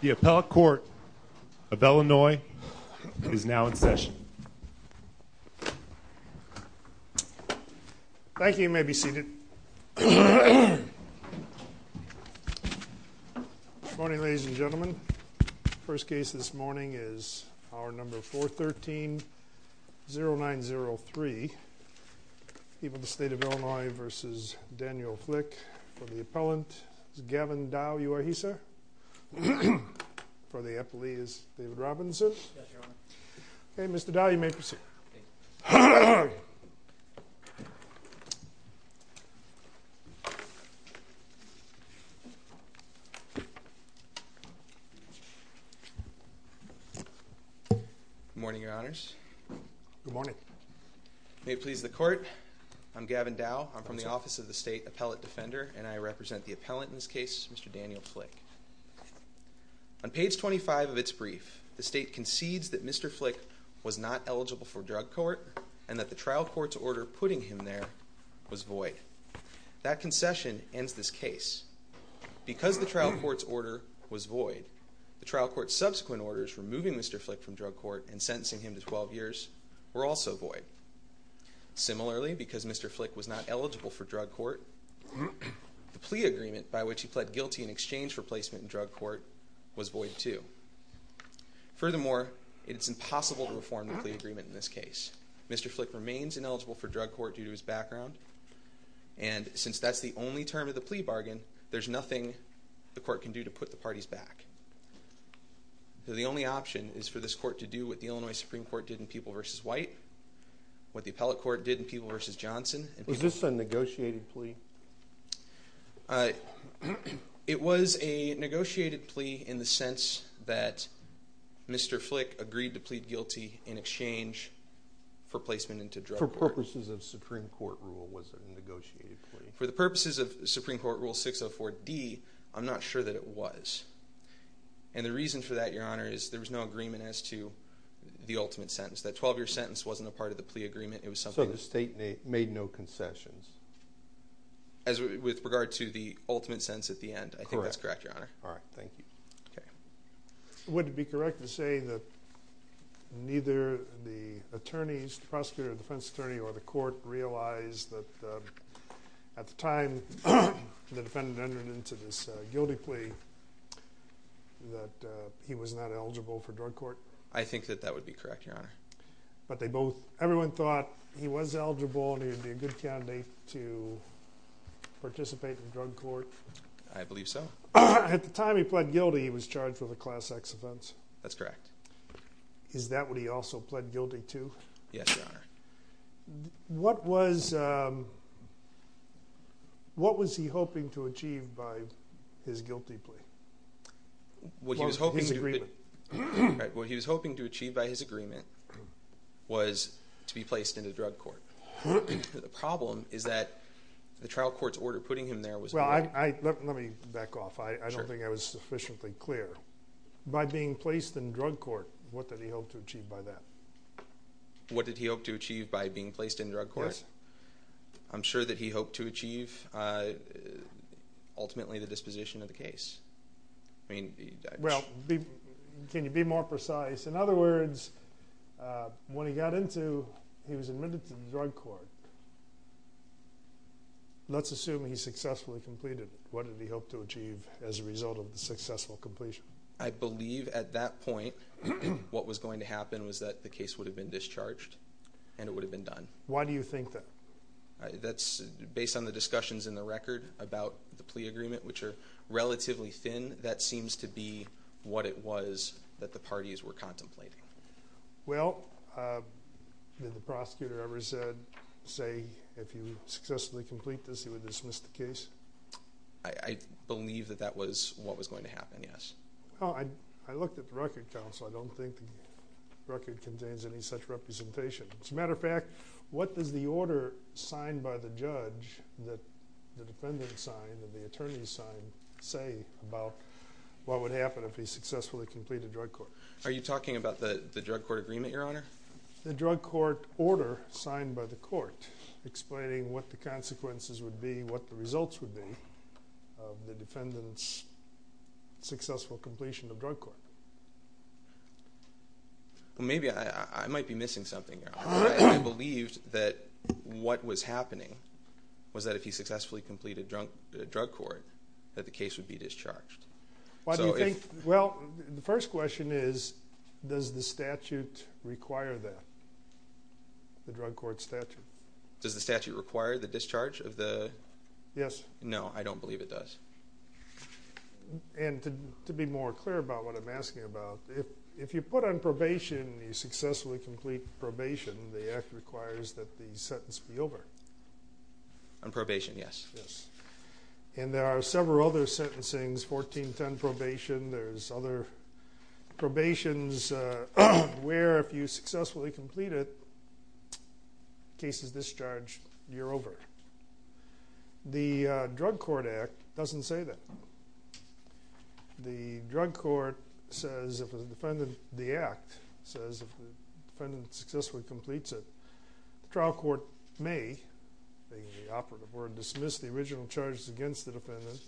The appellate court of Illinois is now in session. Thank you. You may be seated. Good morning ladies and gentlemen. First case this morning is our number 413-0903. People of the state of Illinois v. Daniel Flick. For the appellant is Gavin Dow. You are he, sir? For the appellee is David Robinson. Okay, Mr. Dow, you may proceed. Good morning, your honors. Good morning. May it please the court, I'm Gavin Dow. I'm from the Office of the State Appellate Defender and I represent the appellant in this case, Mr. Daniel Flick. On page 25 of its brief, the state concedes that Mr. Flick was not eligible for drug court and that the trial court's order putting him there was void. That concession ends this case. Because the trial court's order was void, the trial court's subsequent orders removing Mr. Flick from drug court and sentencing him to 12 years were also void. Similarly, because Mr. Flick was not eligible for drug court, the plea agreement by which he pled guilty in exchange for placement in drug court was void too. Furthermore, it's impossible to reform the plea agreement in this case. Mr. Flick remains ineligible for drug court due to his background and since that's the only term of the plea bargain, there's nothing the court can do to put the parties back. The only option is for this court to do what the Illinois Supreme Court did in People v. White, what the appellate court did in People v. Johnson. Was this a negotiated plea? It was a negotiated plea in the sense that Mr. Flick agreed to plead guilty in exchange for placement into drug court. For purposes of Supreme Court rule, was it a negotiated plea? For the purposes of Supreme Court Rule 604D, I'm not sure that it was. And the reason for that, Your Honor, is there was no sentence. That 12-year sentence wasn't a part of the plea agreement. It was something... So the state made no concessions? As with regard to the ultimate sentence at the end, I think that's correct, Your Honor. All right, thank you. Okay. Would it be correct to say that neither the attorneys, prosecutor, defense attorney, or the court realized that at the time the defendant entered into this guilty plea that he was not eligible for drug court? I think that that would be correct, Your Honor. But they both... Everyone thought he was eligible and he would be a good candidate to participate in drug court? I believe so. At the time he pled guilty, he was charged with a Class X offense? That's correct. Is that what he also pled guilty to? Yes, Your Honor. What was... What was he hoping to achieve by his guilty plea? What he was hoping to achieve by his agreement was to be placed in a drug court. The problem is that the trial court's order putting him there was... Well, let me back off. I don't think I was sufficiently clear. By being placed in drug court, what did he hope to achieve by that? What did he hope to achieve by being placed in drug court? I'm sure that he hoped to achieve ultimately the disposition of the case. Well, can you be more precise? In other words, when he got into... He was admitted to the drug court. Let's assume he successfully completed. What did he hope to achieve as a result of the successful completion? I believe at that point what was going to happen was that the case would have been discharged and it would have been done. Why do you think that? That's based on the relatively thin that seems to be what it was that the parties were contemplating. Well, did the prosecutor ever said, say, if you successfully complete this, he would dismiss the case? I believe that that was what was going to happen, yes. Oh, I looked at the Record Council. I don't think the record contains any such representation. As a matter of fact, what does the order signed by the judge that the defendant signed and the attorney signed say about what would happen if he successfully completed drug court? Are you talking about the the drug court agreement, your honor? The drug court order signed by the court explaining what the consequences would be, what the results would be of the defendant's successful completion of drug court. Well, maybe I might be missing something, your honor. I believed that what was happening was that if he successfully completed drug court that the case would be discharged. Why do you think? Well, the first question is, does the statute require that, the drug court statute? Does the statute require the discharge of the? Yes. No, I don't believe it does. And to be more clear about what I'm asking about, if you put on probation and you successfully complete probation, the act requires that the sentence be over. On probation, yes. Yes. And there are several other sentencing's, 1410 probation, there's other probation's where if you successfully complete it, case is discharged, you're over. The Drug Court Act doesn't say that. The drug court says if the defendant, the act says if the defendant successfully completes it, the trial court may, being the operative word, dismiss the original charges against the defendant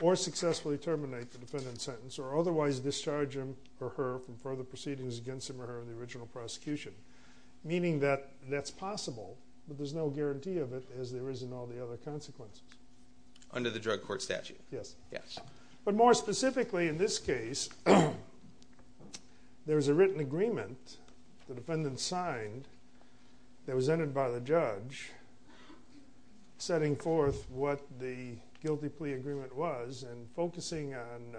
or successfully terminate the defendant's sentence or otherwise discharge him or her from further proceedings against him or her in the original prosecution. Meaning that that's possible, but there's no guarantee of it as there is in all the other consequences. Under the drug court statute? Yes. Yes. But more specifically in this case, there's a written agreement the defendant signed that was entered by the judge setting forth what the guilty plea agreement was and focusing on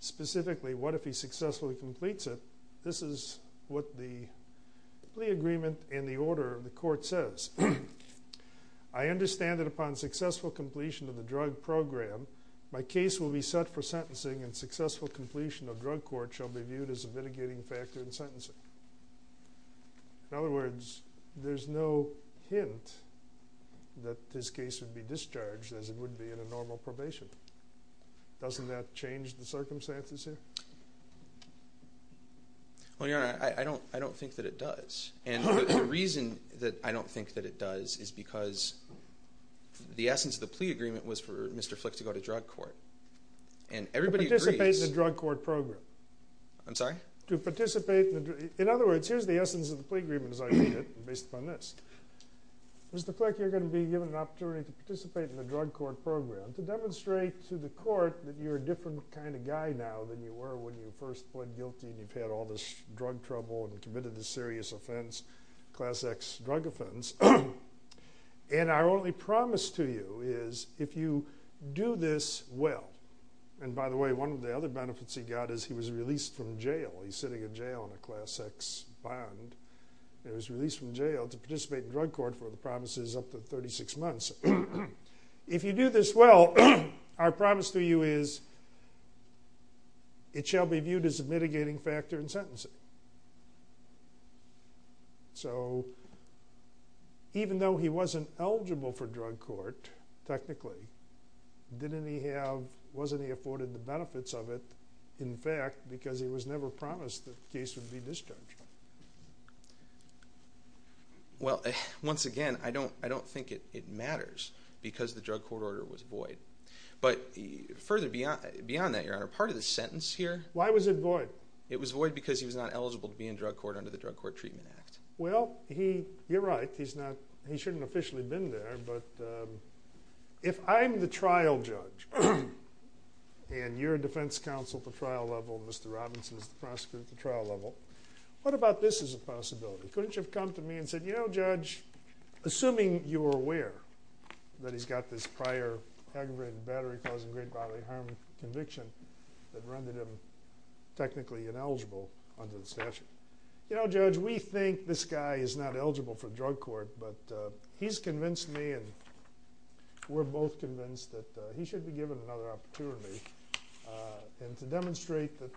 specifically what if he successfully completes it. This is what the plea agreement in the order of the court says. I understand that upon successful completion of the drug program, my case will be set for sentencing and successful completion of drug court shall be viewed as a mitigating factor in sentencing. In other words, there's no hint that this case would be discharged as it would be in a normal probation. Doesn't that change the circumstances here? Well, Your Honor, I don't think that it does. And the reason that I the essence of the plea agreement was for Mr. Flick to go to drug court. And everybody participates in the drug court program. I'm sorry? To participate. In other words, here's the essence of the plea agreement as I read it based upon this. Mr. Flick, you're going to be given an opportunity to participate in the drug court program to demonstrate to the court that you're a different kind of guy now than you were when you first pled guilty and you've had all this drug trouble and committed this serious offense, class X drug offense. And our only promise to you is if you do this well, and by the way, one of the other benefits he got is he was released from jail. He's sitting in jail in a class X bond. He was released from jail to participate in drug court for the promises up to 36 months. If you do this well, our promise to you is it shall be viewed as a mitigating factor in your case. So, even though he wasn't eligible for drug court, technically, didn't he have, wasn't he afforded the benefits of it, in fact, because he was never promised the case would be discharged. Well, once again, I don't think it matters because the drug court order was void. But further beyond that, Your Honor, part of the sentence here... Why was it void? It was void because he was not eligible to be in drug court under the Drug Court Treatment Act. Well, he, you're right, he's not, he shouldn't officially been there, but if I'm the trial judge and you're a defense counsel at the trial level, Mr. Robinson is the prosecutor at the trial level, what about this as a possibility? Couldn't you have come to me and said, you know, Judge, assuming you were aware that he's got this prior aggravated battery causing great bodily harm conviction that rendered him technically ineligible under the statute? You know, Judge, we think this guy is not eligible for drug court, but he's convinced me and we're both convinced that he should be given another opportunity and to demonstrate that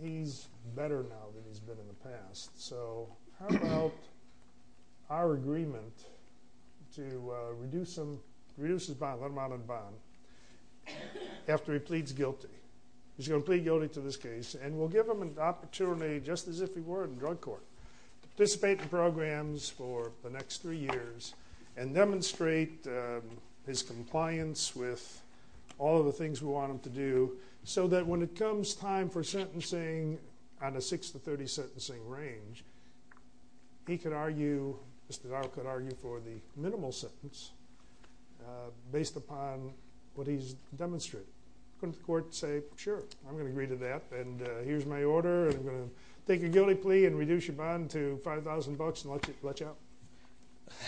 he's better now than he's been in the past. So, how about our agreement to reduce him, reduce his bond, let him out of the bond after he pleads guilty. He's going to plead guilty to this case and we'll give him an opportunity, just as if he were in drug court, to participate in programs for the next three years and demonstrate his compliance with all of the things we want him to do so that when it comes time for sentencing on a six to thirty sentencing range, he could argue, Mr. Darrell could argue for the minimal sentence based upon what he's demonstrated. Couldn't the court say, sure, I'm gonna take a guilty plea and reduce your bond to five thousand bucks and let you out?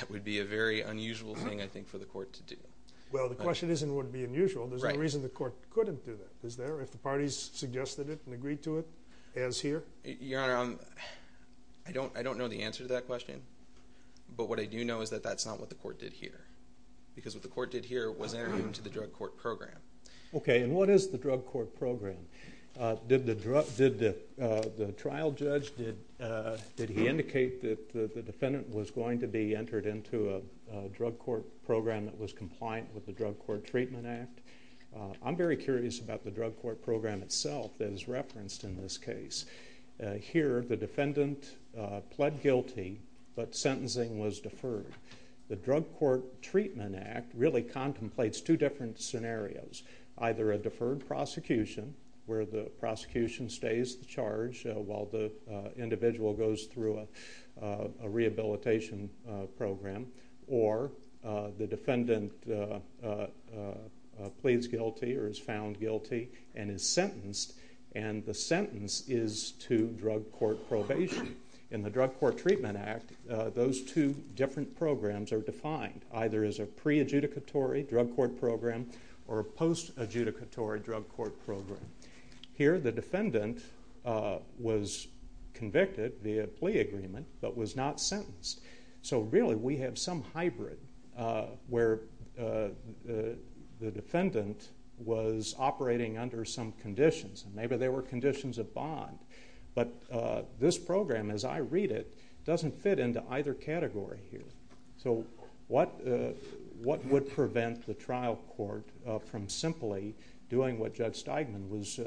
That would be a very unusual thing, I think, for the court to do. Well, the question isn't what would be unusual, there's no reason the court couldn't do that, is there, if the parties suggested it and agreed to it as here? Your Honor, I don't know the answer to that question, but what I do know is that that's not what the court did here, because what the court did here was enter him into the drug court program. Did the trial judge, did he indicate that the defendant was going to be entered into a drug court program that was compliant with the Drug Court Treatment Act? I'm very curious about the drug court program itself that is referenced in this case. Here, the defendant pled guilty, but sentencing was deferred. The Drug Court Treatment Act really contemplates two different scenarios. Either a deferred prosecution, where the prosecution stays the charge while the individual goes through a rehabilitation program, or the defendant pleads guilty or is found guilty and is sentenced, and the sentence is to drug court probation. In the Drug Court Treatment Act, those two different scenarios are either a drug court program or a post-adjudicatory drug court program. Here, the defendant was convicted via plea agreement, but was not sentenced. So really, we have some hybrid where the defendant was operating under some conditions, and maybe there were conditions of bond, but this program, as I read it, doesn't fit into either category here. So what would prevent the trial court from simply doing what Judge Steigman was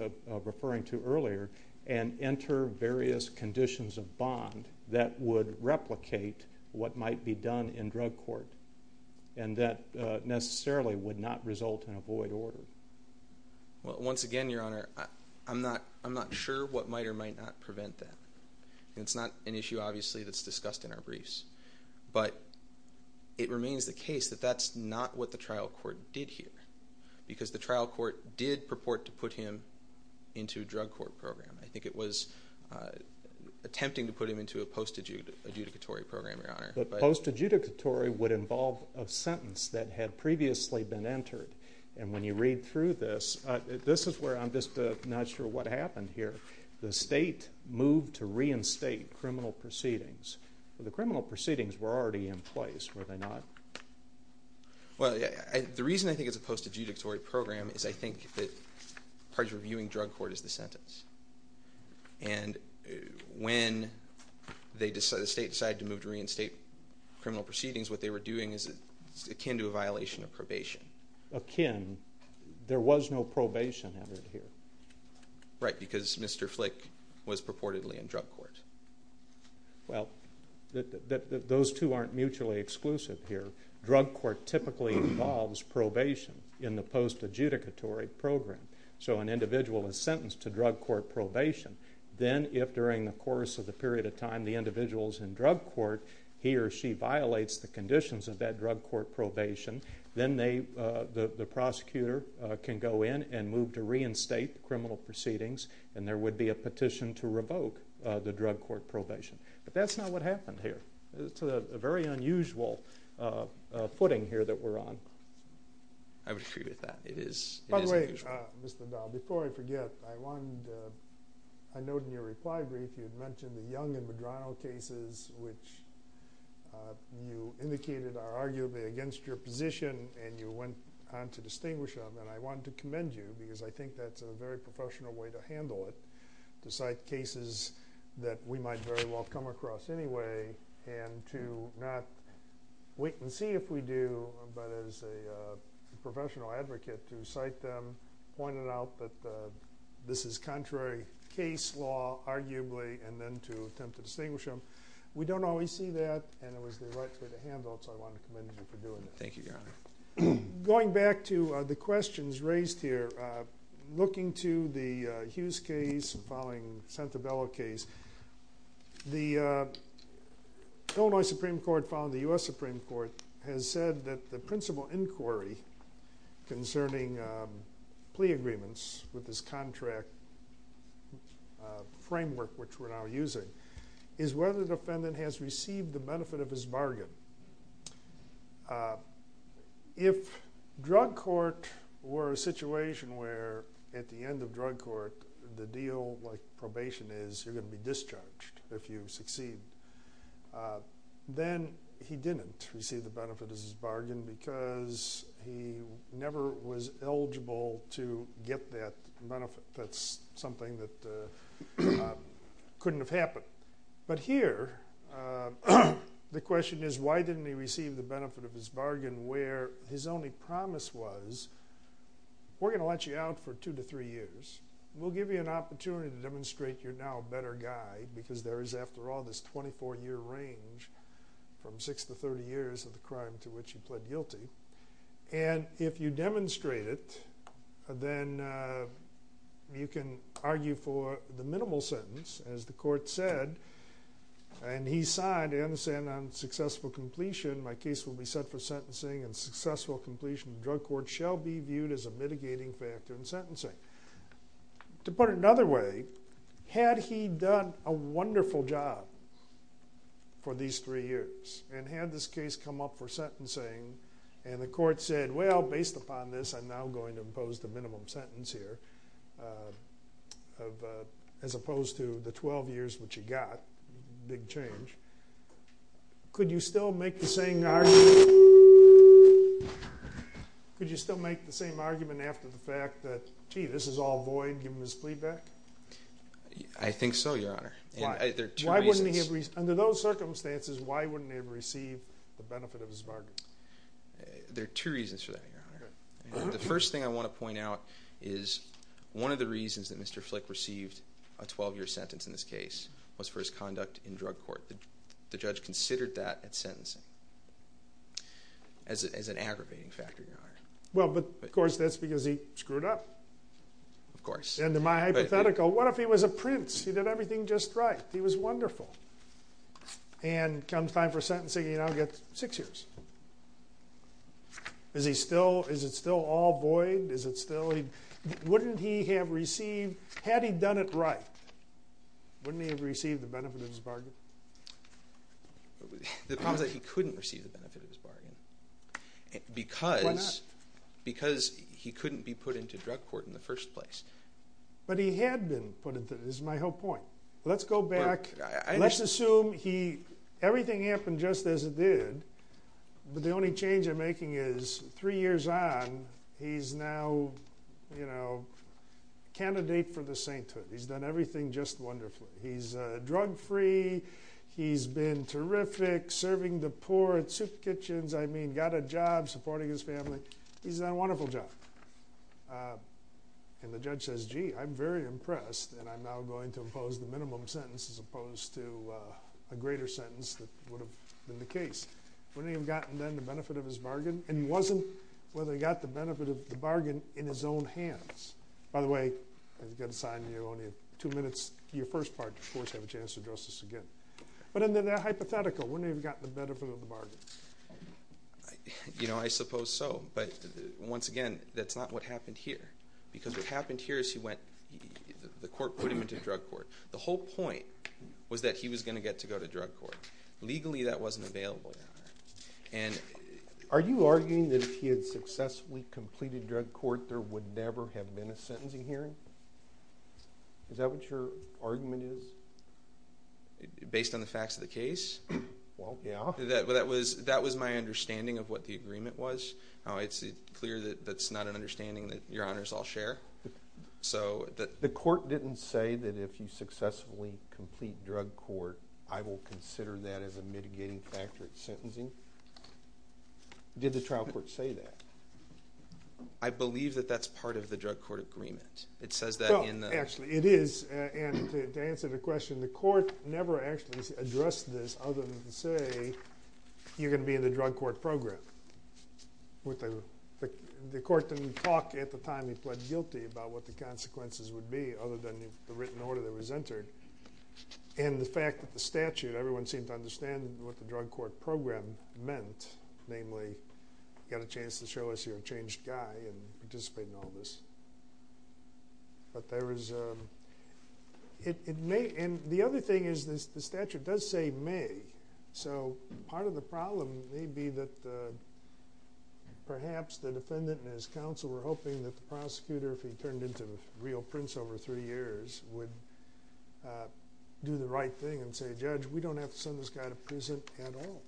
referring to earlier and enter various conditions of bond that would replicate what might be done in drug court, and that necessarily would not result in a void order? Well, once again, Your Honor, I'm not sure what might or might not prevent that. It's not an issue, obviously, that's discussed in the briefs, but it remains the case that that's not what the trial court did here, because the trial court did purport to put him into a drug court program. I think it was attempting to put him into a post-adjudicatory program, Your Honor. The post-adjudicatory would involve a sentence that had previously been entered, and when you read through this, this is where I'm just not sure what happened here. The state moved to reinstate criminal proceedings, but the criminal proceedings were already in place, were they not? Well, yeah, the reason I think it's a post-adjudicatory program is I think that parties reviewing drug court is the sentence, and when they decide, the state decided to move to reinstate criminal proceedings, what they were doing is akin to a violation of because Mr. Flick was purportedly in drug court. Well, those two aren't mutually exclusive here. Drug court typically involves probation in the post-adjudicatory program, so an individual is sentenced to drug court probation. Then, if during the course of the period of time the individual's in drug court, he or she violates the conditions of that drug court probation, then they, the prosecutor, can go in and move to reinstate criminal proceedings and there would be a petition to revoke the drug court probation, but that's not what happened here. It's a very unusual footing here that we're on. I would agree with that. It is unusual. By the way, Mr. Dowell, before I forget, I wanted, I note in your reply brief, you had mentioned the Young and Medrano cases, which you indicated are arguably against your position and you went on to distinguish them, and I wanted to commend you because I think that's a very professional way to handle it, to cite cases that we might very well come across anyway and to not wait and see if we do, but as a professional advocate, to cite them, pointed out that this is contrary case law, arguably, and then to attempt to distinguish them. We don't always see that and it was the right way to handle it, so I wanted to commend you for doing it. Thank you, Your Honor. Going back to the questions raised here, looking to the Hughes case and following Santabello case, the Illinois Supreme Court following the U.S. Supreme Court has said that the principal inquiry concerning plea agreements with this contract framework, which we're now using, is whether the if drug court were a situation where, at the end of drug court, the deal like probation is you're going to be discharged if you succeed, then he didn't receive the benefit of his bargain because he never was eligible to get that benefit. That's something that couldn't have happened, but here the question is why didn't he receive the benefit of his bargain where his only promise was, we're gonna let you out for two to three years. We'll give you an opportunity to demonstrate you're now a better guy because there is, after all, this 24-year range from six to thirty years of the crime to which he pled guilty, and if you demonstrate it, then you can argue for the minimal sentence, as the court said, and he signed and said on successful completion, my case will be set for sentencing and successful completion of drug court shall be viewed as a mitigating factor in sentencing. To put it another way, had he done a wonderful job for these three years and had this case come up for sentencing and the court said, well based upon this I'm now going to impose the 12 years which he got, big change. Could you still make the same argument, could you still make the same argument after the fact that, gee, this is all void given his plea back? I think so, Your Honor. Why? There are two reasons. Under those circumstances, why wouldn't he have received the benefit of his bargain? There are two reasons for that, Your Honor. The first thing I want to point out is one of the reasons that Mr. Flick received a 12-year sentence in this case was for his conduct in drug court. The judge considered that at sentencing as an aggravating factor, Your Honor. Well, but of course that's because he screwed up. Of course. And in my hypothetical, what if he was a prince? He did everything just right. He was wonderful. And comes time for sentencing, he now gets six years. Is he still, is it still all void? Is it still, wouldn't he have received, had he done it right, wouldn't he have received the benefit of his bargain? The problem is that he couldn't receive the benefit of his bargain because he couldn't be put into drug court in the first place. But he had been put into, this is my whole point. Let's go back, let's assume he, everything happened just as it did, but the only change they're making is three years on, he's now, you know, candidate for the sainthood. He's done everything just wonderfully. He's drug-free. He's been terrific serving the poor at soup kitchens. I mean, got a job supporting his family. He's done a wonderful job. And the judge says, gee, I'm very impressed and I'm now going to impose the minimum sentence as opposed to a greater sentence that would have been the case. Wouldn't he have gotten then the benefit of his bargain? And he wasn't, whether he got the benefit of the bargain in his own hands. By the way, I've got to sign you only two minutes, your first part, of course, have a chance to address this again. But in the hypothetical, wouldn't he have gotten the benefit of the bargain? You know, I suppose so. But once again, that's not what happened here. Because what happened here is he went, the court put him into drug court. Legally, that wasn't available. Are you arguing that if he had successfully completed drug court, there would never have been a sentencing hearing? Is that what your argument is? Based on the facts of the case? Well, yeah. That was my understanding of what the agreement was. It's clear that that's not an understanding that your honors all share. So, the court didn't say that if you successfully complete drug court, I will consider that as a mitigating factor at sentencing? Did the trial court say that? I believe that that's part of the drug court agreement. It says that in the... Actually, it is. And to answer the question, the court never actually addressed this other than to say, you're gonna be in the drug court program. The court didn't talk at the time he pled guilty about what the consequences would be, other than the written order that was entered. And the fact that the statute, everyone seemed to understand what the drug court program meant. Namely, you got a chance to show us your changed guy and participate in all this. But there is, it may, and the other thing is this, the statute does say may. So, part of the problem may be that perhaps the defendant and his counsel were hoping that the prosecutor, if he turned into a real prince over three years, would do the right thing and say, Judge, we don't have to send this guy to prison at all.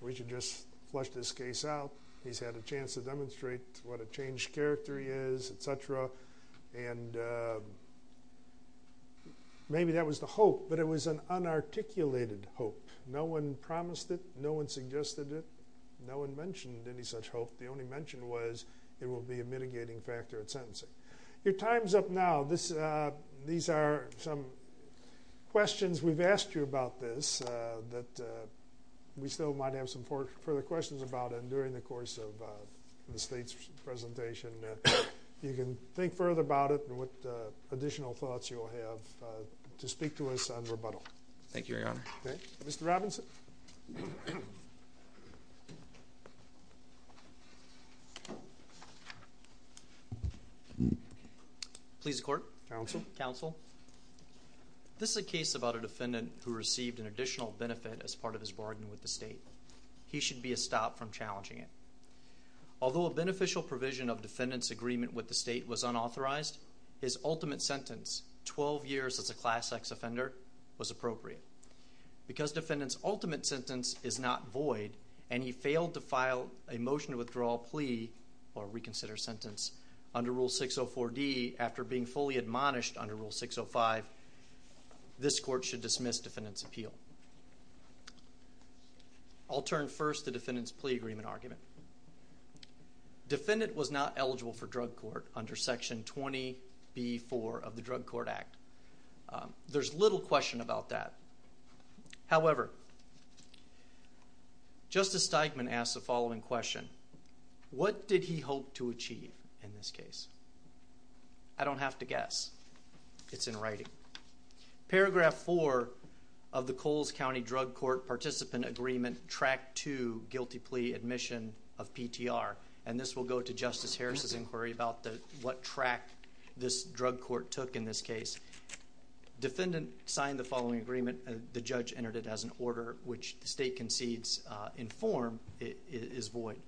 We should just flush this case out. He's had a chance to demonstrate what a changed character he is, etc. And maybe that was the hope, but it was an unarticulated hope. No one promised it. No one suggested it. No one mentioned any such hope. The only mention was it will be a mitigating factor at sentencing. Your time's up now. This, these are some questions we've asked you about this that we still might have some further questions about it during the course of the state's presentation. You can think further about it and what additional thoughts you'll have to speak to us on rebuttal. Thank you, Your Honor. Okay, Mr. Robinson. Please the court. Counsel. Counsel. This is a case about a defendant who received an additional benefit as part of his bargain with the state. He should be stopped from challenging it. Although a beneficial provision of defendant's agreement with the state was unauthorized, his ultimate sentence 12 years as a class X offender was appropriate. Because defendant's ultimate sentence is not void and he failed to file a motion to withdraw plea or reconsider sentence under Rule 604 D, after being fully admonished under Rule 605, this court should dismiss defendant's appeal. I'll turn first to defendant's plea agreement argument. Defendant was not eligible for drug court under Section 20 B four of the Drug Court Act. Um, there's little question about that. However, Justice Steigman asked the following question. What did he hope to achieve in this case? I don't have to guess. It's in writing. Paragraph four of the Coles County Drug Court Participant Agreement Track to guilty plea admission of P. T. R. And this will go to Justice Harris's inquiry about what track this drug court took in this case. Defendant signed the following agreement. The judge entered it as an order which the state concedes in form is void.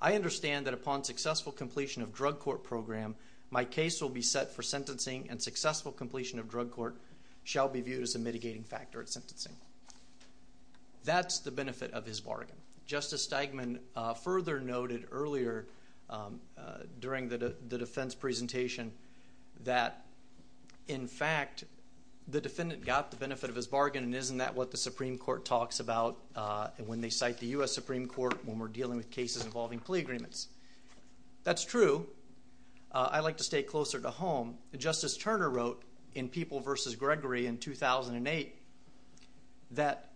I understand that upon successful completion of drug court program, my case will be set for sentencing and successful completion of drug court shall be viewed as a mitigating factor at sentencing. That's the benefit of his bargain. Justice Steigman further noted earlier during the defense presentation that, in fact, the defendant got the benefit of his bargain. And isn't that what the Supreme Court talks about when they cite the U. S. Supreme Court when we're dealing with cases involving plea agreements? That's true. I like to stay closer to home. Justice Turner wrote in People versus Gregory in 2000 and eight that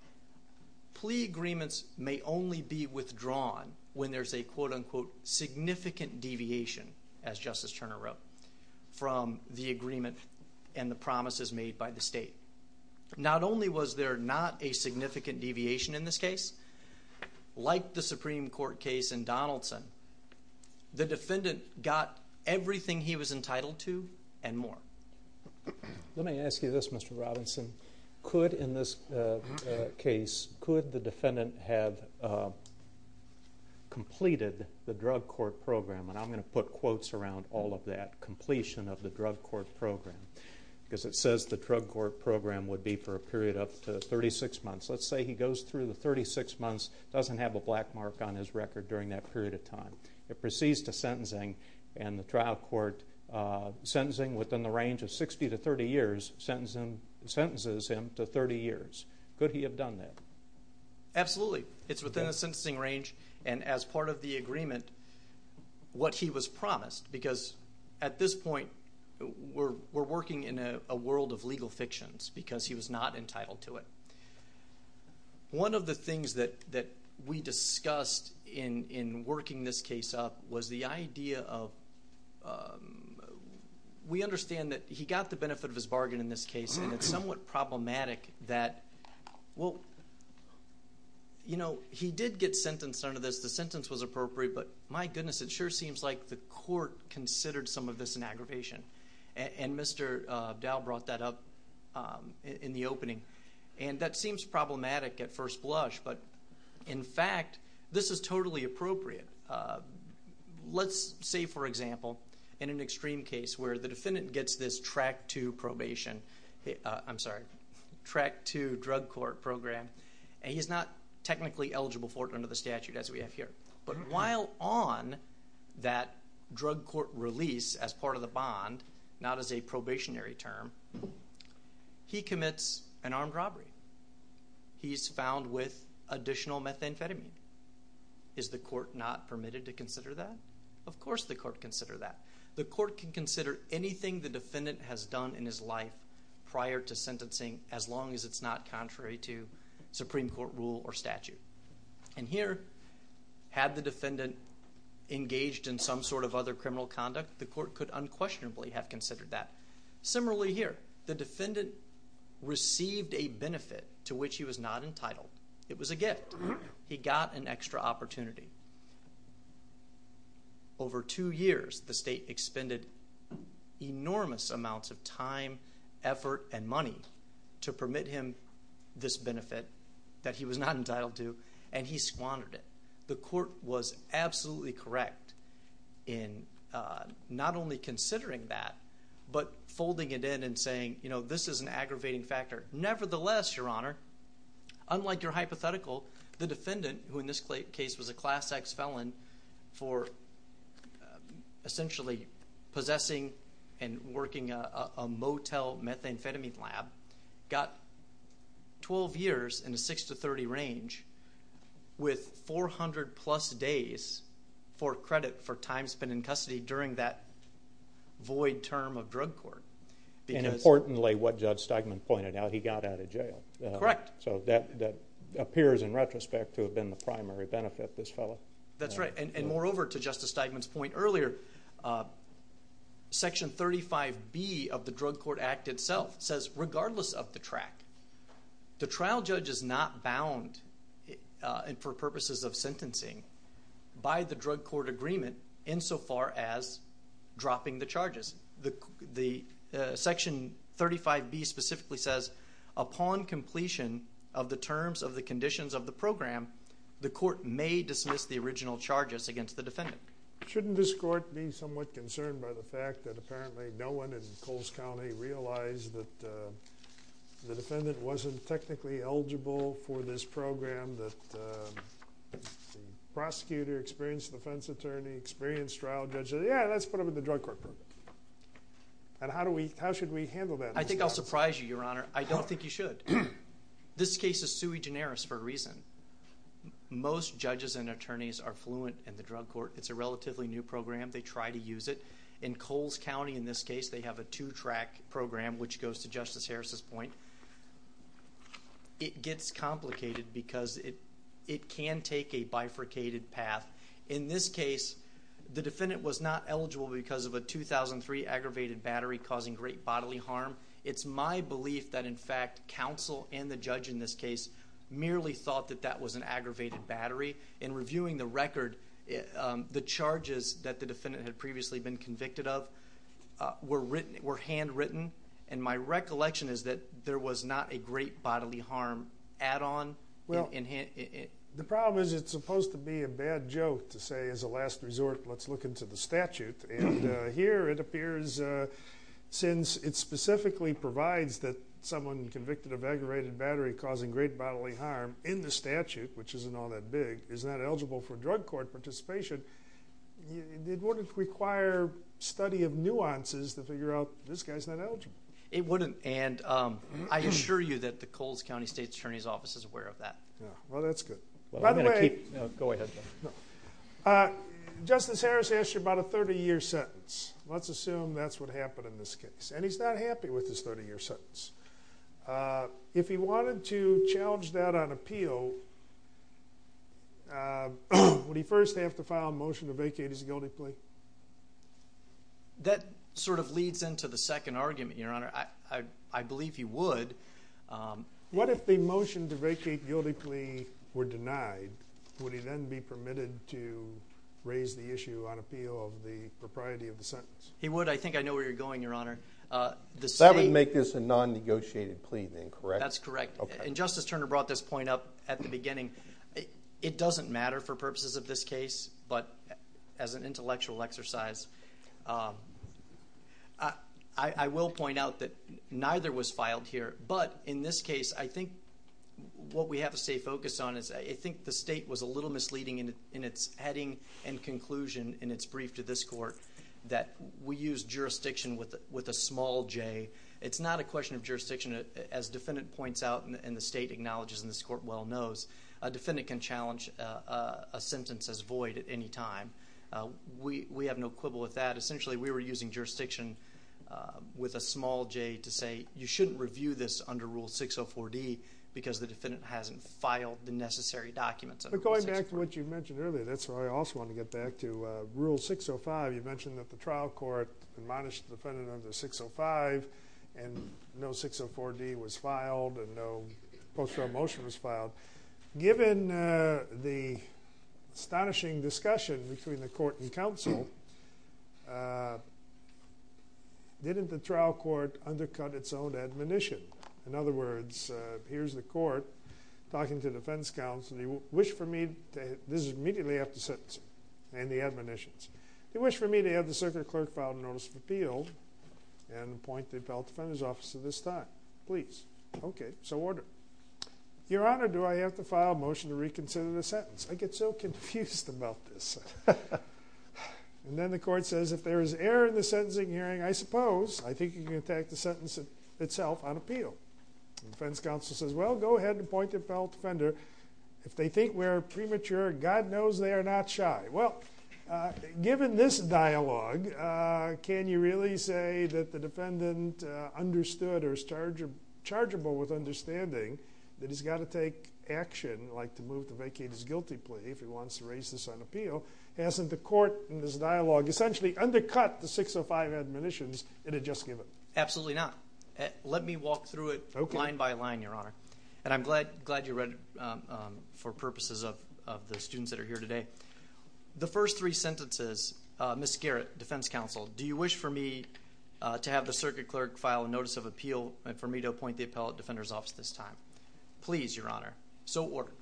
plea agreements may only be withdrawn when there's a quote unquote significant deviation, as Justice Turner wrote from the agreement and the promises made by the state. Not only was there not a significant deviation in this case, like the Supreme Court case in Donaldson, the defendant got everything he was entitled to and more. Let me ask you this, Mr Robinson. Could in this case, could the defendant have completed the drug court program? And I'm gonna put quotes around all of that completion of the drug court program because it says the drug court program would be for a period of 36 months. Let's say he goes through the 36 months, doesn't have a black mark on his record during that period of time. It ranges 60 to 30 years sentencing sentences him to 30 years. Could he have done that? Absolutely. It's within a sentencing range. And as part of the agreement, what he was promised, because at this point we're working in a world of legal fictions because he was not entitled to it. One of the things that we discussed in working this case up was the idea of um, we understand that he got the benefit of his bargain in this case, and it's somewhat problematic that well, you know, he did get sentenced under this. The sentence was appropriate. But my goodness, it sure seems like the court considered some of this an aggravation. And Mr Dow brought that up in the opening, and that seems problematic at first blush. But in fact, this is totally appropriate. Uh, let's say, for example, in an extreme case where the defendant gets this track to probation, I'm sorry, track to drug court program, and he's not technically eligible for it under the statute as we have here. But while on that drug court release as part of the bond, not as a probationary term, he commits an armed robbery. He's found with additional methamphetamine. Is the court not permitted to consider that? Of course the court consider that. The court can consider anything the defendant has done in his life prior to sentencing, as long as it's not contrary to Supreme Court rule or statute. And here, had the defendant engaged in some sort of other criminal conduct, the court could unquestionably have considered that. Similarly, here, the defendant received a benefit to which he was not entitled. It was a gift. He got an extra opportunity. Over two years, the state expended enormous amounts of time, effort and money to permit him this benefit that he was not entitled to, and he squandered it. The court was absolutely correct in, uh, not only considering that, but folding it in and saying, you know, this is an aggravating factor. Nevertheless, Your Honor, unlike your hypothetical, the defendant, who in this case was a Class X felon for essentially possessing and working a motel methamphetamine lab, got 12 years in a 6 to 30 range with 400 plus days for credit for time spent in custody during that void term of drug court. And importantly, what Judge Steigman pointed out, he got out of jail. Correct. So that appears in retrospect to have been the primary benefit, this fellow. That's right. And moreover, to Justice Steigman's point earlier, Section 35B of the Drug Court Act itself says, regardless of the track, the trial judge is not bound for purposes of sentencing by the drug court agreement insofar as dropping the charges. The Section 35B specifically says, upon completion of the terms of the conditions of the program, the court may dismiss the original charges against the defendant. Shouldn't this court be somewhat concerned by the fact that apparently no one in Coles County realized that the defendant wasn't technically eligible for this program, that the prosecutor, experienced defense attorney, experienced trial judge said, yeah, let's put him in the drug court. And how should we handle that? I think I'll surprise you, Your Honor. I don't think you should. This case is sui generis for a reason. Most judges and attorneys are fluent in the drug court. It's a relatively new program. They try to use it. In Coles County, in this case, they have a two track program, which goes to Justice Harris's point. It gets complicated because it can take a bifurcated path. In this case, the defendant was not eligible because of a 2003 aggravated battery causing great bodily harm. It's my belief that, in fact, counsel and the judge in this case merely thought that that was an aggravated battery. In reviewing the record, the charges that the defendant had previously been convicted of were written, were handwritten. And my recollection is that there was not a great bodily harm add on. Well, the problem is, it's supposed to be a bad joke to say, as a last resort, let's look into the statute. And here it appears, since it specifically provides that someone convicted of aggravated battery causing great bodily harm in the statute, which isn't all that big, is not eligible for drug court participation, it wouldn't require study of nuances to figure out, this guy's not eligible. It wouldn't. And I assure you that the Coles County State Attorney's Office is aware of that. Well, that's good. By the way... Go ahead, John. Justice Harris asked you about a 30 year sentence. Let's assume that's what happened in this case. And he's not happy with this 30 year sentence. If he wanted to challenge that on appeal, would he first have to file a motion to vacate his guilty plea? That sort of leads into the second argument, Your Honor. I believe he would. What if the motion to vacate guilty plea were denied? Would he then be permitted to raise the issue on appeal of the propriety of the sentence? He would. I think I know where you're going, Your Honor. That would make this a non negotiated plea, then, correct? That's correct. And Justice Turner brought this point up at the beginning. It doesn't matter for purposes of this case, but as an intellectual exercise, I will point out that neither was filed here. But in this case, I think what we have to stay focused on is, I think the state was a little misleading in its heading and conclusion in its brief to this court that we use jurisdiction with a small J. It's not a question of jurisdiction. As the defendant points out, and the state acknowledges, and this court well knows, a defendant can challenge a sentence as void at any time. We have no quibble with that. Essentially, we were using jurisdiction with a small J to say, you shouldn't review this under Rule 604D because the defendant hasn't filed the necessary documents. But going back to what you mentioned earlier, that's why I also want to get back to Rule 605. You mentioned that the trial court admonished the defendant under 605 and no 604D was filed and no post trial motion was filed. Given the astonishing discussion between the court and counsel, didn't the trial court undercut its own admonition? In other words, here's the court talking to defense counsel, they wish for me... This is immediately after sentencing and the admonitions. They wish for me to have the circuit clerk file a notice of appeal and appoint the appellate defender's son. Please. Okay, so order. Your Honor, do I have to file a motion to reconsider the sentence? I get so confused about this. And then the court says, if there is error in the sentencing hearing, I suppose, I think you can attack the sentence itself on appeal. Defense counsel says, well, go ahead and appoint the appellate defender. If they think we're premature, God knows they are not shy. Well, given this dialogue, can you really say that the defendant understood or is chargeable with understanding that he's gotta take action, like to move to vacate his guilty plea if he wants to raise this on appeal? Hasn't the court in this dialogue essentially undercut the 605 admonitions it had just given? Absolutely not. Let me walk through it line by line, Your Honor. And I'm glad you read it for purposes of the students that are here today. The first three sentences, Miss Garrett, defense counsel, do you wish for me to have the circuit clerk file a notice of appeal and for me to appoint the appellate defender's office this time? Please, Your Honor. So order.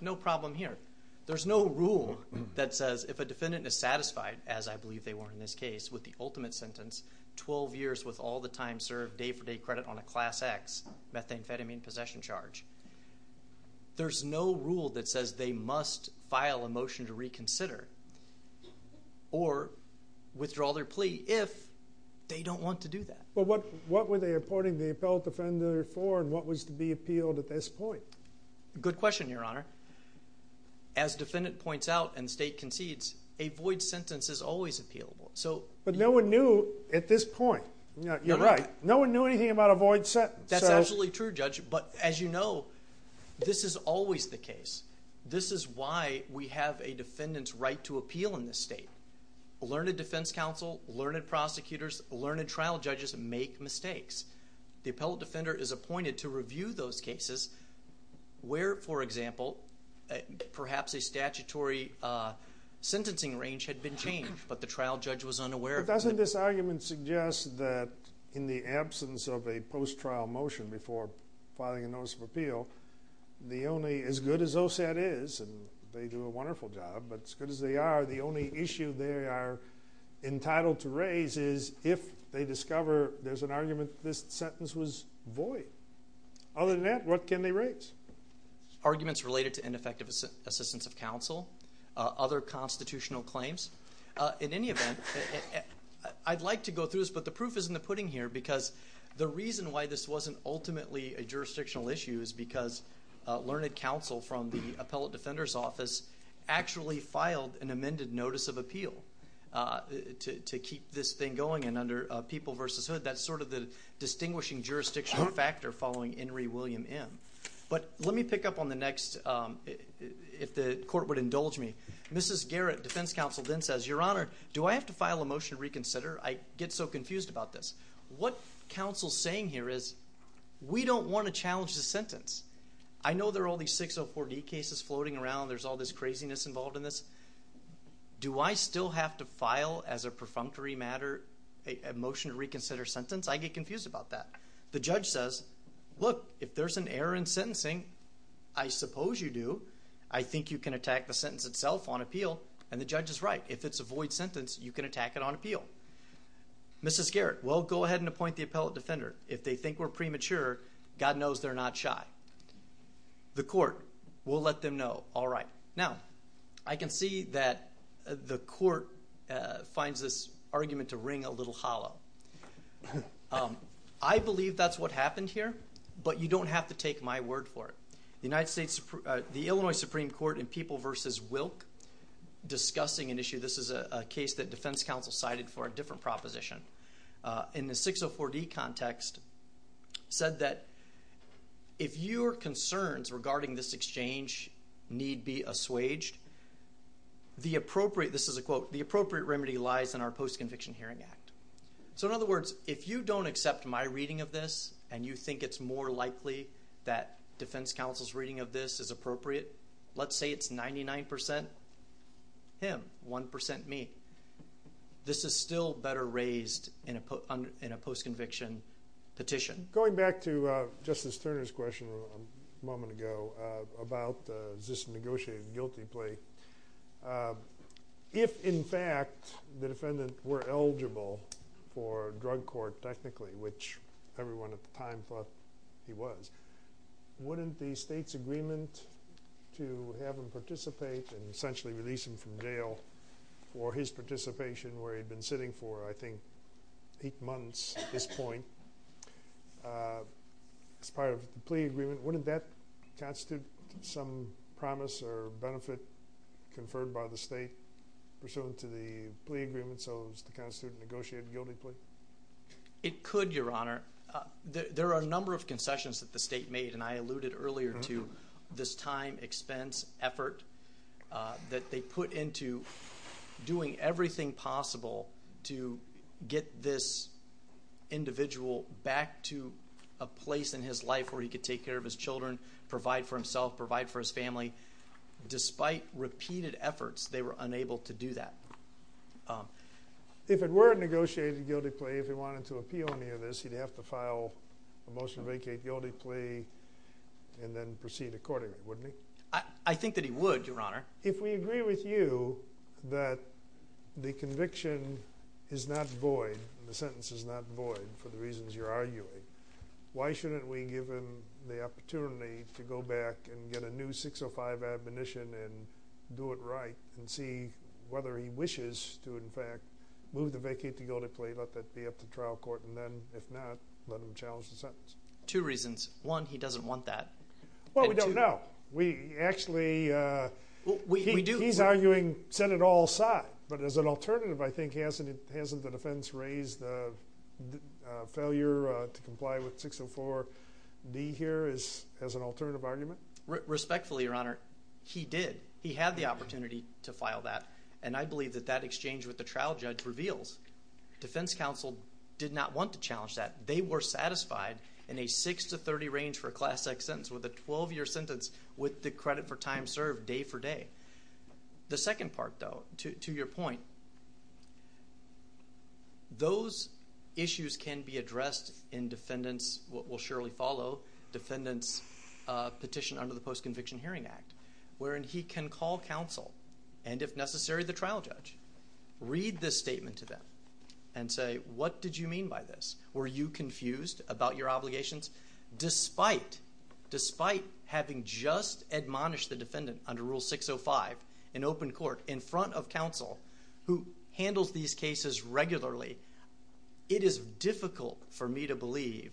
No problem here. There's no rule that says if a defendant is satisfied, as I believe they were in this case with the ultimate sentence, 12 years with all the time served, day for day credit on a Class X methamphetamine possession charge. Or withdraw their plea if they don't want to do that. But what were they appointing the appellate defender for and what was to be appealed at this point? Good question, Your Honor. As defendant points out and the state concedes, a void sentence is always appealable. But no one knew at this point. You're right. No one knew anything about a void sentence. That's absolutely true, Judge. But as you know, this is always the case. This is why we have a defendant's right to appeal in this state. Learned defense counsel, learned prosecutors, learned trial judges make mistakes. The appellate defender is appointed to review those cases where, for example, perhaps a statutory sentencing range had been changed but the trial judge was unaware. But doesn't this argument suggest that in the absence of a post-trial motion before filing a notice of appeal, the only, as good as they do a wonderful job, but as good as they are, the only issue they are entitled to raise is if they discover there's an argument this sentence was void. Other than that, what can they raise? Arguments related to ineffective assistance of counsel, other constitutional claims. In any event, I'd like to go through this but the proof isn't the pudding here because the reason why this wasn't ultimately a jurisdictional issue is because learned counsel from the Appellate Defender's Office actually filed an amended notice of appeal to keep this thing going and under People v. Hood that's sort of the distinguishing jurisdictional factor following Henry William M. But let me pick up on the next, if the court would indulge me, Mrs. Garrett, defense counsel then says, your honor, do I have to file a motion to reconsider? I get so confused about this. What counsel's saying here is we don't want to challenge the sentence. I know there are all these 604 D cases floating around, there's all this craziness involved in this. Do I still have to file as a perfunctory matter a motion to reconsider sentence? I get confused about that. The judge says, look if there's an error in sentencing, I suppose you do, I think you can attack the sentence itself on appeal and the judge is right. If it's a void sentence you can attack it on appeal. Mrs. Garrett, well go ahead and appoint the Appellate Defender. If they think we're premature, God knows they're not shy. The court, we'll let them know. All right, now I can see that the court finds this argument to ring a little hollow. I believe that's what happened here but you don't have to take my word for it. The United States, the Illinois Supreme Court in People v. Wilk discussing an issue, this is a case that defense counsel cited for a proposition, in the 604 D context said that if your concerns regarding this exchange need be assuaged, the appropriate, this is a quote, the appropriate remedy lies in our Post-Conviction Hearing Act. So in other words, if you don't accept my reading of this and you think it's more likely that defense counsel's reading of this is appropriate, let's say it's 99% him, 1% me, this is still better raised in a post-conviction petition. Going back to Justice Turner's question a moment ago about this negotiated guilty plea, if in fact the defendant were eligible for drug court technically, which everyone at the time thought he was, wouldn't the state's agreement to have him participate and essentially release him from jail for his participation where he'd been sitting for, I think, eight months at this point as part of the plea agreement, wouldn't that constitute some promise or benefit conferred by the state pursuant to the plea agreement so as to constitute a negotiated guilty plea? It could, Your Honor. There are a number of concessions that the state made and I alluded earlier to this time, expense, effort that they put into doing everything possible to get this individual back to a place in his life where he could take care of his children, provide for himself, provide for his family. Despite repeated efforts, they were unable to do that. If it were a negotiated guilty plea, if he wanted to appeal any of this, he'd have to file a motion to vacate guilty plea and then proceed accordingly, wouldn't he? I think that he would, Your Honor. If we agree with you that the conviction is not void, the sentence is not void for the reasons you're arguing, why shouldn't we give him the opportunity to go back and get a new 605 admonition and do it right and see whether he wishes to, in fact, move the sentence? Two reasons. One, he doesn't want that. Well, we don't know. We actually, he's arguing set it all aside, but as an alternative, I think, hasn't the defense raised the failure to comply with 604 D here as an alternative argument? Respectfully, Your Honor, he did. He had the opportunity to file that and I believe that that exchange with the trial judge reveals defense counsel did not want to challenge that. They were satisfied in a 6 to 30 range for a class X sentence with a 12-year sentence with the credit for time served day for day. The second part, though, to your point, those issues can be addressed in defendants, what will surely follow, defendants petition under the Post Conviction Hearing Act, wherein he can call counsel and, if necessary, the trial judge, read this statement to them and say, what did you mean by this? Were you confused about your obligations? Despite, despite having just admonished the defendant under Rule 605 in open court in front of counsel, who handles these cases regularly, it is difficult for me to believe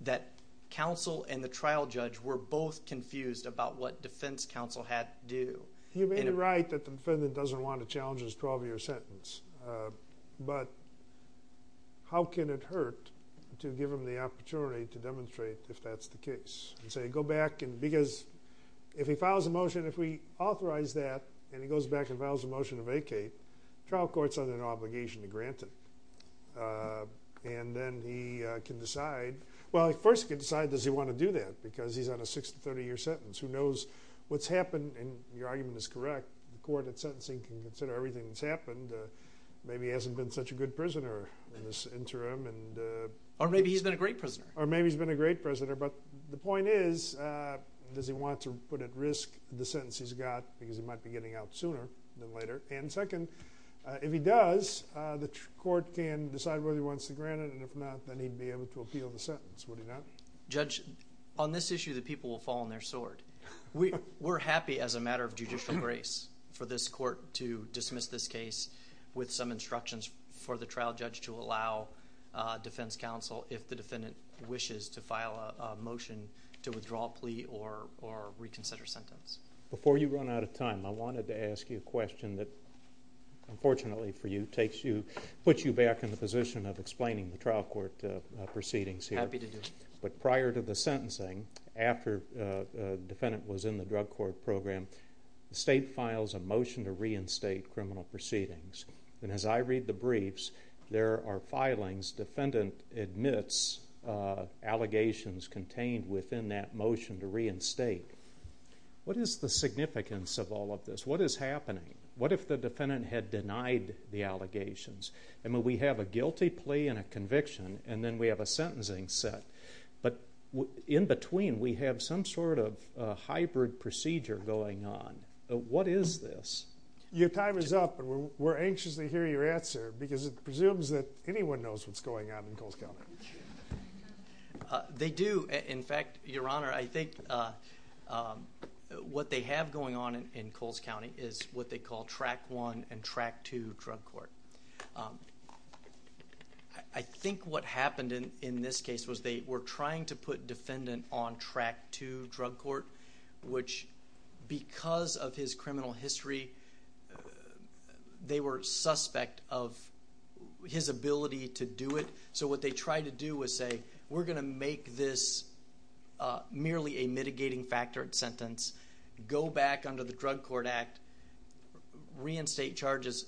that counsel and the trial judge were both confused about what defense counsel had to do. You may be that the defendant doesn't want to challenge his 12-year sentence, but how can it hurt to give him the opportunity to demonstrate if that's the case and say, go back and, because if he files a motion, if we authorize that and he goes back and files a motion to vacate, trial court's under an obligation to grant it. And then he can decide, well, he first can decide does he want to do that because he's on a 6 to 30-year sentence. Who knows what's happened, and your argument is correct. The court, at sentencing, can consider everything that's happened. Maybe he hasn't been such a good prisoner in this interim. Or maybe he's been a great prisoner. Or maybe he's been a great prisoner, but the point is, does he want to put at risk the sentence he's got because he might be getting out sooner than later? And second, if he does, the court can decide whether he wants to grant it and, if not, then he'd be able to appeal the sentence, would he not? Judge, on this issue, the people will fall on their sword. We, we're happy as a matter of judicial grace for this court to dismiss this case with some instructions for the trial judge to allow defense counsel, if the defendant wishes, to file a motion to withdraw a plea or reconsider sentence. Before you run out of time, I wanted to ask you a question that, unfortunately for you, takes you, puts you back in the position of explaining the trial court proceedings here. Happy to do it. But prior to the sentencing, after defendant was in the trial court program, the state files a motion to reinstate criminal proceedings. And as I read the briefs, there are filings, defendant admits allegations contained within that motion to reinstate. What is the significance of all of this? What is happening? What if the defendant had denied the allegations? And when we have a guilty plea and a conviction and then we have a sentencing set, but in between we have some sort of hybrid procedure going on. What is this? Your time is up. We're anxious to hear your answer because it presumes that anyone knows what's going on in Coles County. They do. In fact, Your Honor, I think what they have going on in Coles County is what they call Track 1 and Track 2 drug court. I think what happened in, in this case was they were trying to put defendant on Track 2 drug court, which because of his criminal history, they were suspect of his ability to do it. So what they tried to do was say, we're gonna make this merely a mitigating factor sentence, go back under the Drug Court Act, reinstate charges.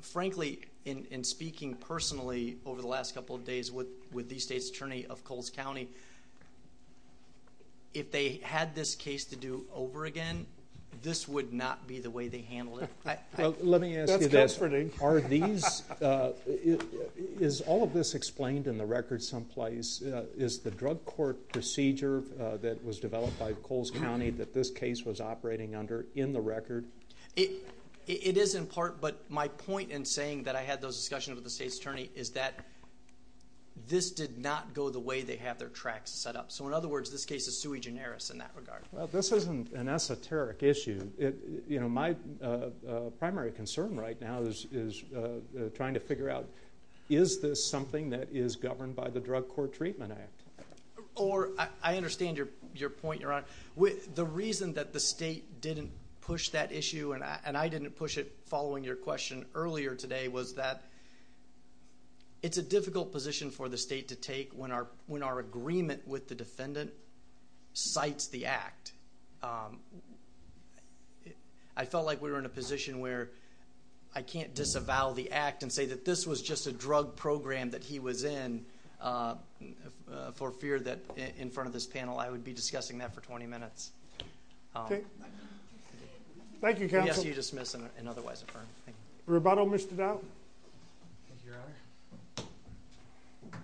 Frankly, in speaking personally over the last couple of days with the State's Attorney of Coles County, if they had this case to do over again, this would not be the way they handled it. Let me ask you this. That's comforting. Are these, is all of this explained in the record someplace? Is the drug court procedure that was developed by Coles County that this case was operating under in the record? It is in part, but my point in saying that I had those discussions with the State is that this did not go the way they have their tracks set up. So in other words, this case is sui generis in that regard. Well, this isn't an esoteric issue. My primary concern right now is trying to figure out, is this something that is governed by the Drug Court Treatment Act? Or, I understand your point, Your Honor. The reason that the State didn't push that issue and I didn't push it following your question earlier today was that it's a difficult position for the State to take when our agreement with the defendant cites the act. I felt like we were in a position where I can't disavow the act and say that this was just a drug program that he was in for fear that in front of this panel, I would be discussing that for 20 minutes. Thank you, counsel. Yes, you dismiss and otherwise affirm. Thank you. Rubato missed it out? Thank you, Your Honor. Okay.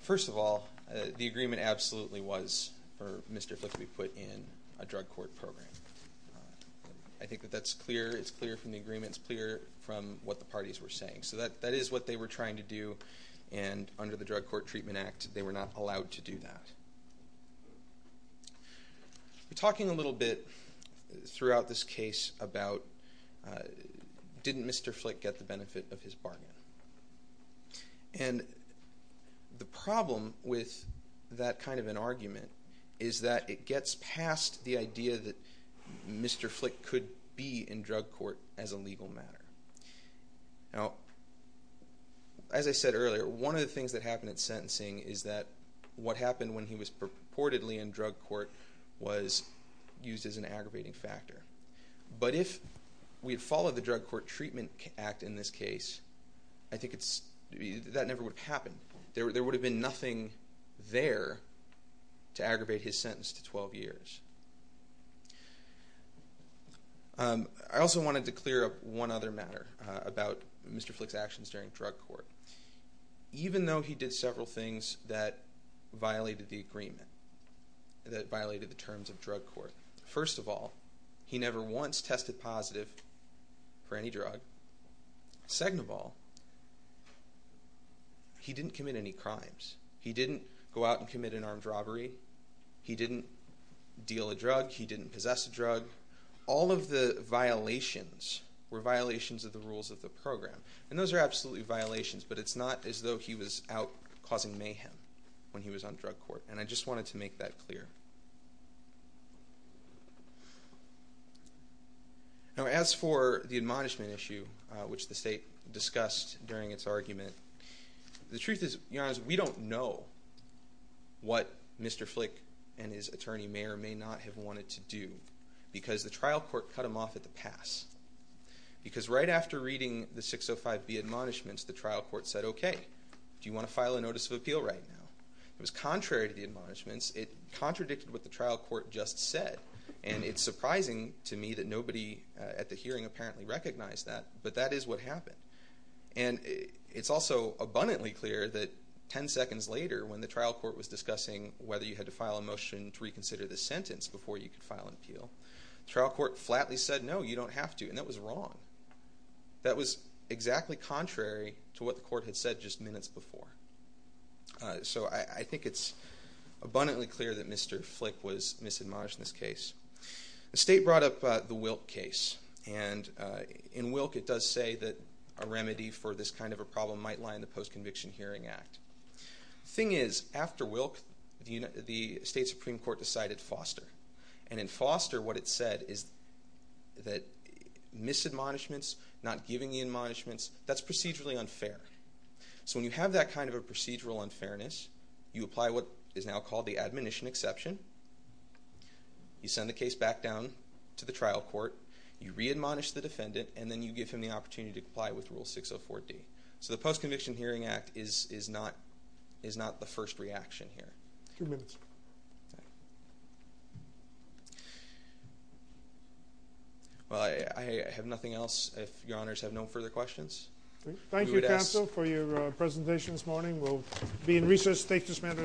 First of all, the agreement absolutely was for Mr. Flick be put in a drug court program. I think that that's clear. It's clear from the agreements, clear from what the parties were saying. So that is what they were trying to do. And under the Drug Court Treatment Act, they were not allowed to do that. We're talking a little bit throughout this case about didn't Mr. Flick get the benefit of his bargain. And the problem with that kind of an argument is that it gets past the idea that Mr. Flick could be in drug court as a legal matter. Now, as I said earlier, one of the things that happened at sentencing is that what happened when he was purportedly in drug court was used as an aggravating factor. But if we had followed the Drug Court Treatment Act in this case, I think that never would have happened. There would have been nothing there to aggravate his sentence to 12 years. I also wanted to clear up one other matter about Mr. Flick's actions during violated the agreement, that violated the terms of drug court. First of all, he never once tested positive for any drug. Second of all, he didn't commit any crimes. He didn't go out and commit an armed robbery. He didn't deal a drug. He didn't possess a drug. All of the violations were violations of the rules of the program. And those are absolutely violations, but it's not as though he was out causing mayhem. When he was on drug court. And I just wanted to make that clear. Now, as for the admonishment issue, which the state discussed during its argument, the truth is, you know, as we don't know what Mr. Flick and his attorney mayor may not have wanted to do because the trial court cut him off at the pass. Because right after reading the 605B admonishments, the trial court said, okay, do you want to file a notice of appeal? It was contrary to the admonishments. It contradicted what the trial court just said. And it's surprising to me that nobody at the hearing apparently recognized that, but that is what happened. And it's also abundantly clear that 10 seconds later, when the trial court was discussing whether you had to file a motion to reconsider the sentence before you could file an appeal, trial court flatly said, no, you don't have to. And that was wrong. That was exactly contrary to what the court had said just minutes before. So I think it's abundantly clear that Mr. Flick was misadmonished in this case. The state brought up the Wilk case. And in Wilk, it does say that a remedy for this kind of a problem might lie in the Post Conviction Hearing Act. Thing is, after Wilk, the state Supreme Court decided Foster. And in Foster, what it said is that misadmonishments, not giving the admonishments, that's kind of a procedural unfairness. You apply what is now called the admonition exception. You send the case back down to the trial court. You re-admonish the defendant, and then you give him the opportunity to comply with Rule 604D. So the Post Conviction Hearing Act is not the first reaction here. Two minutes. Well, I have nothing else, if your honors have no further questions. Thank you, counsel, for your presentation this morning. We'll be in recess. Thank you, Mr. Mander and your advisor.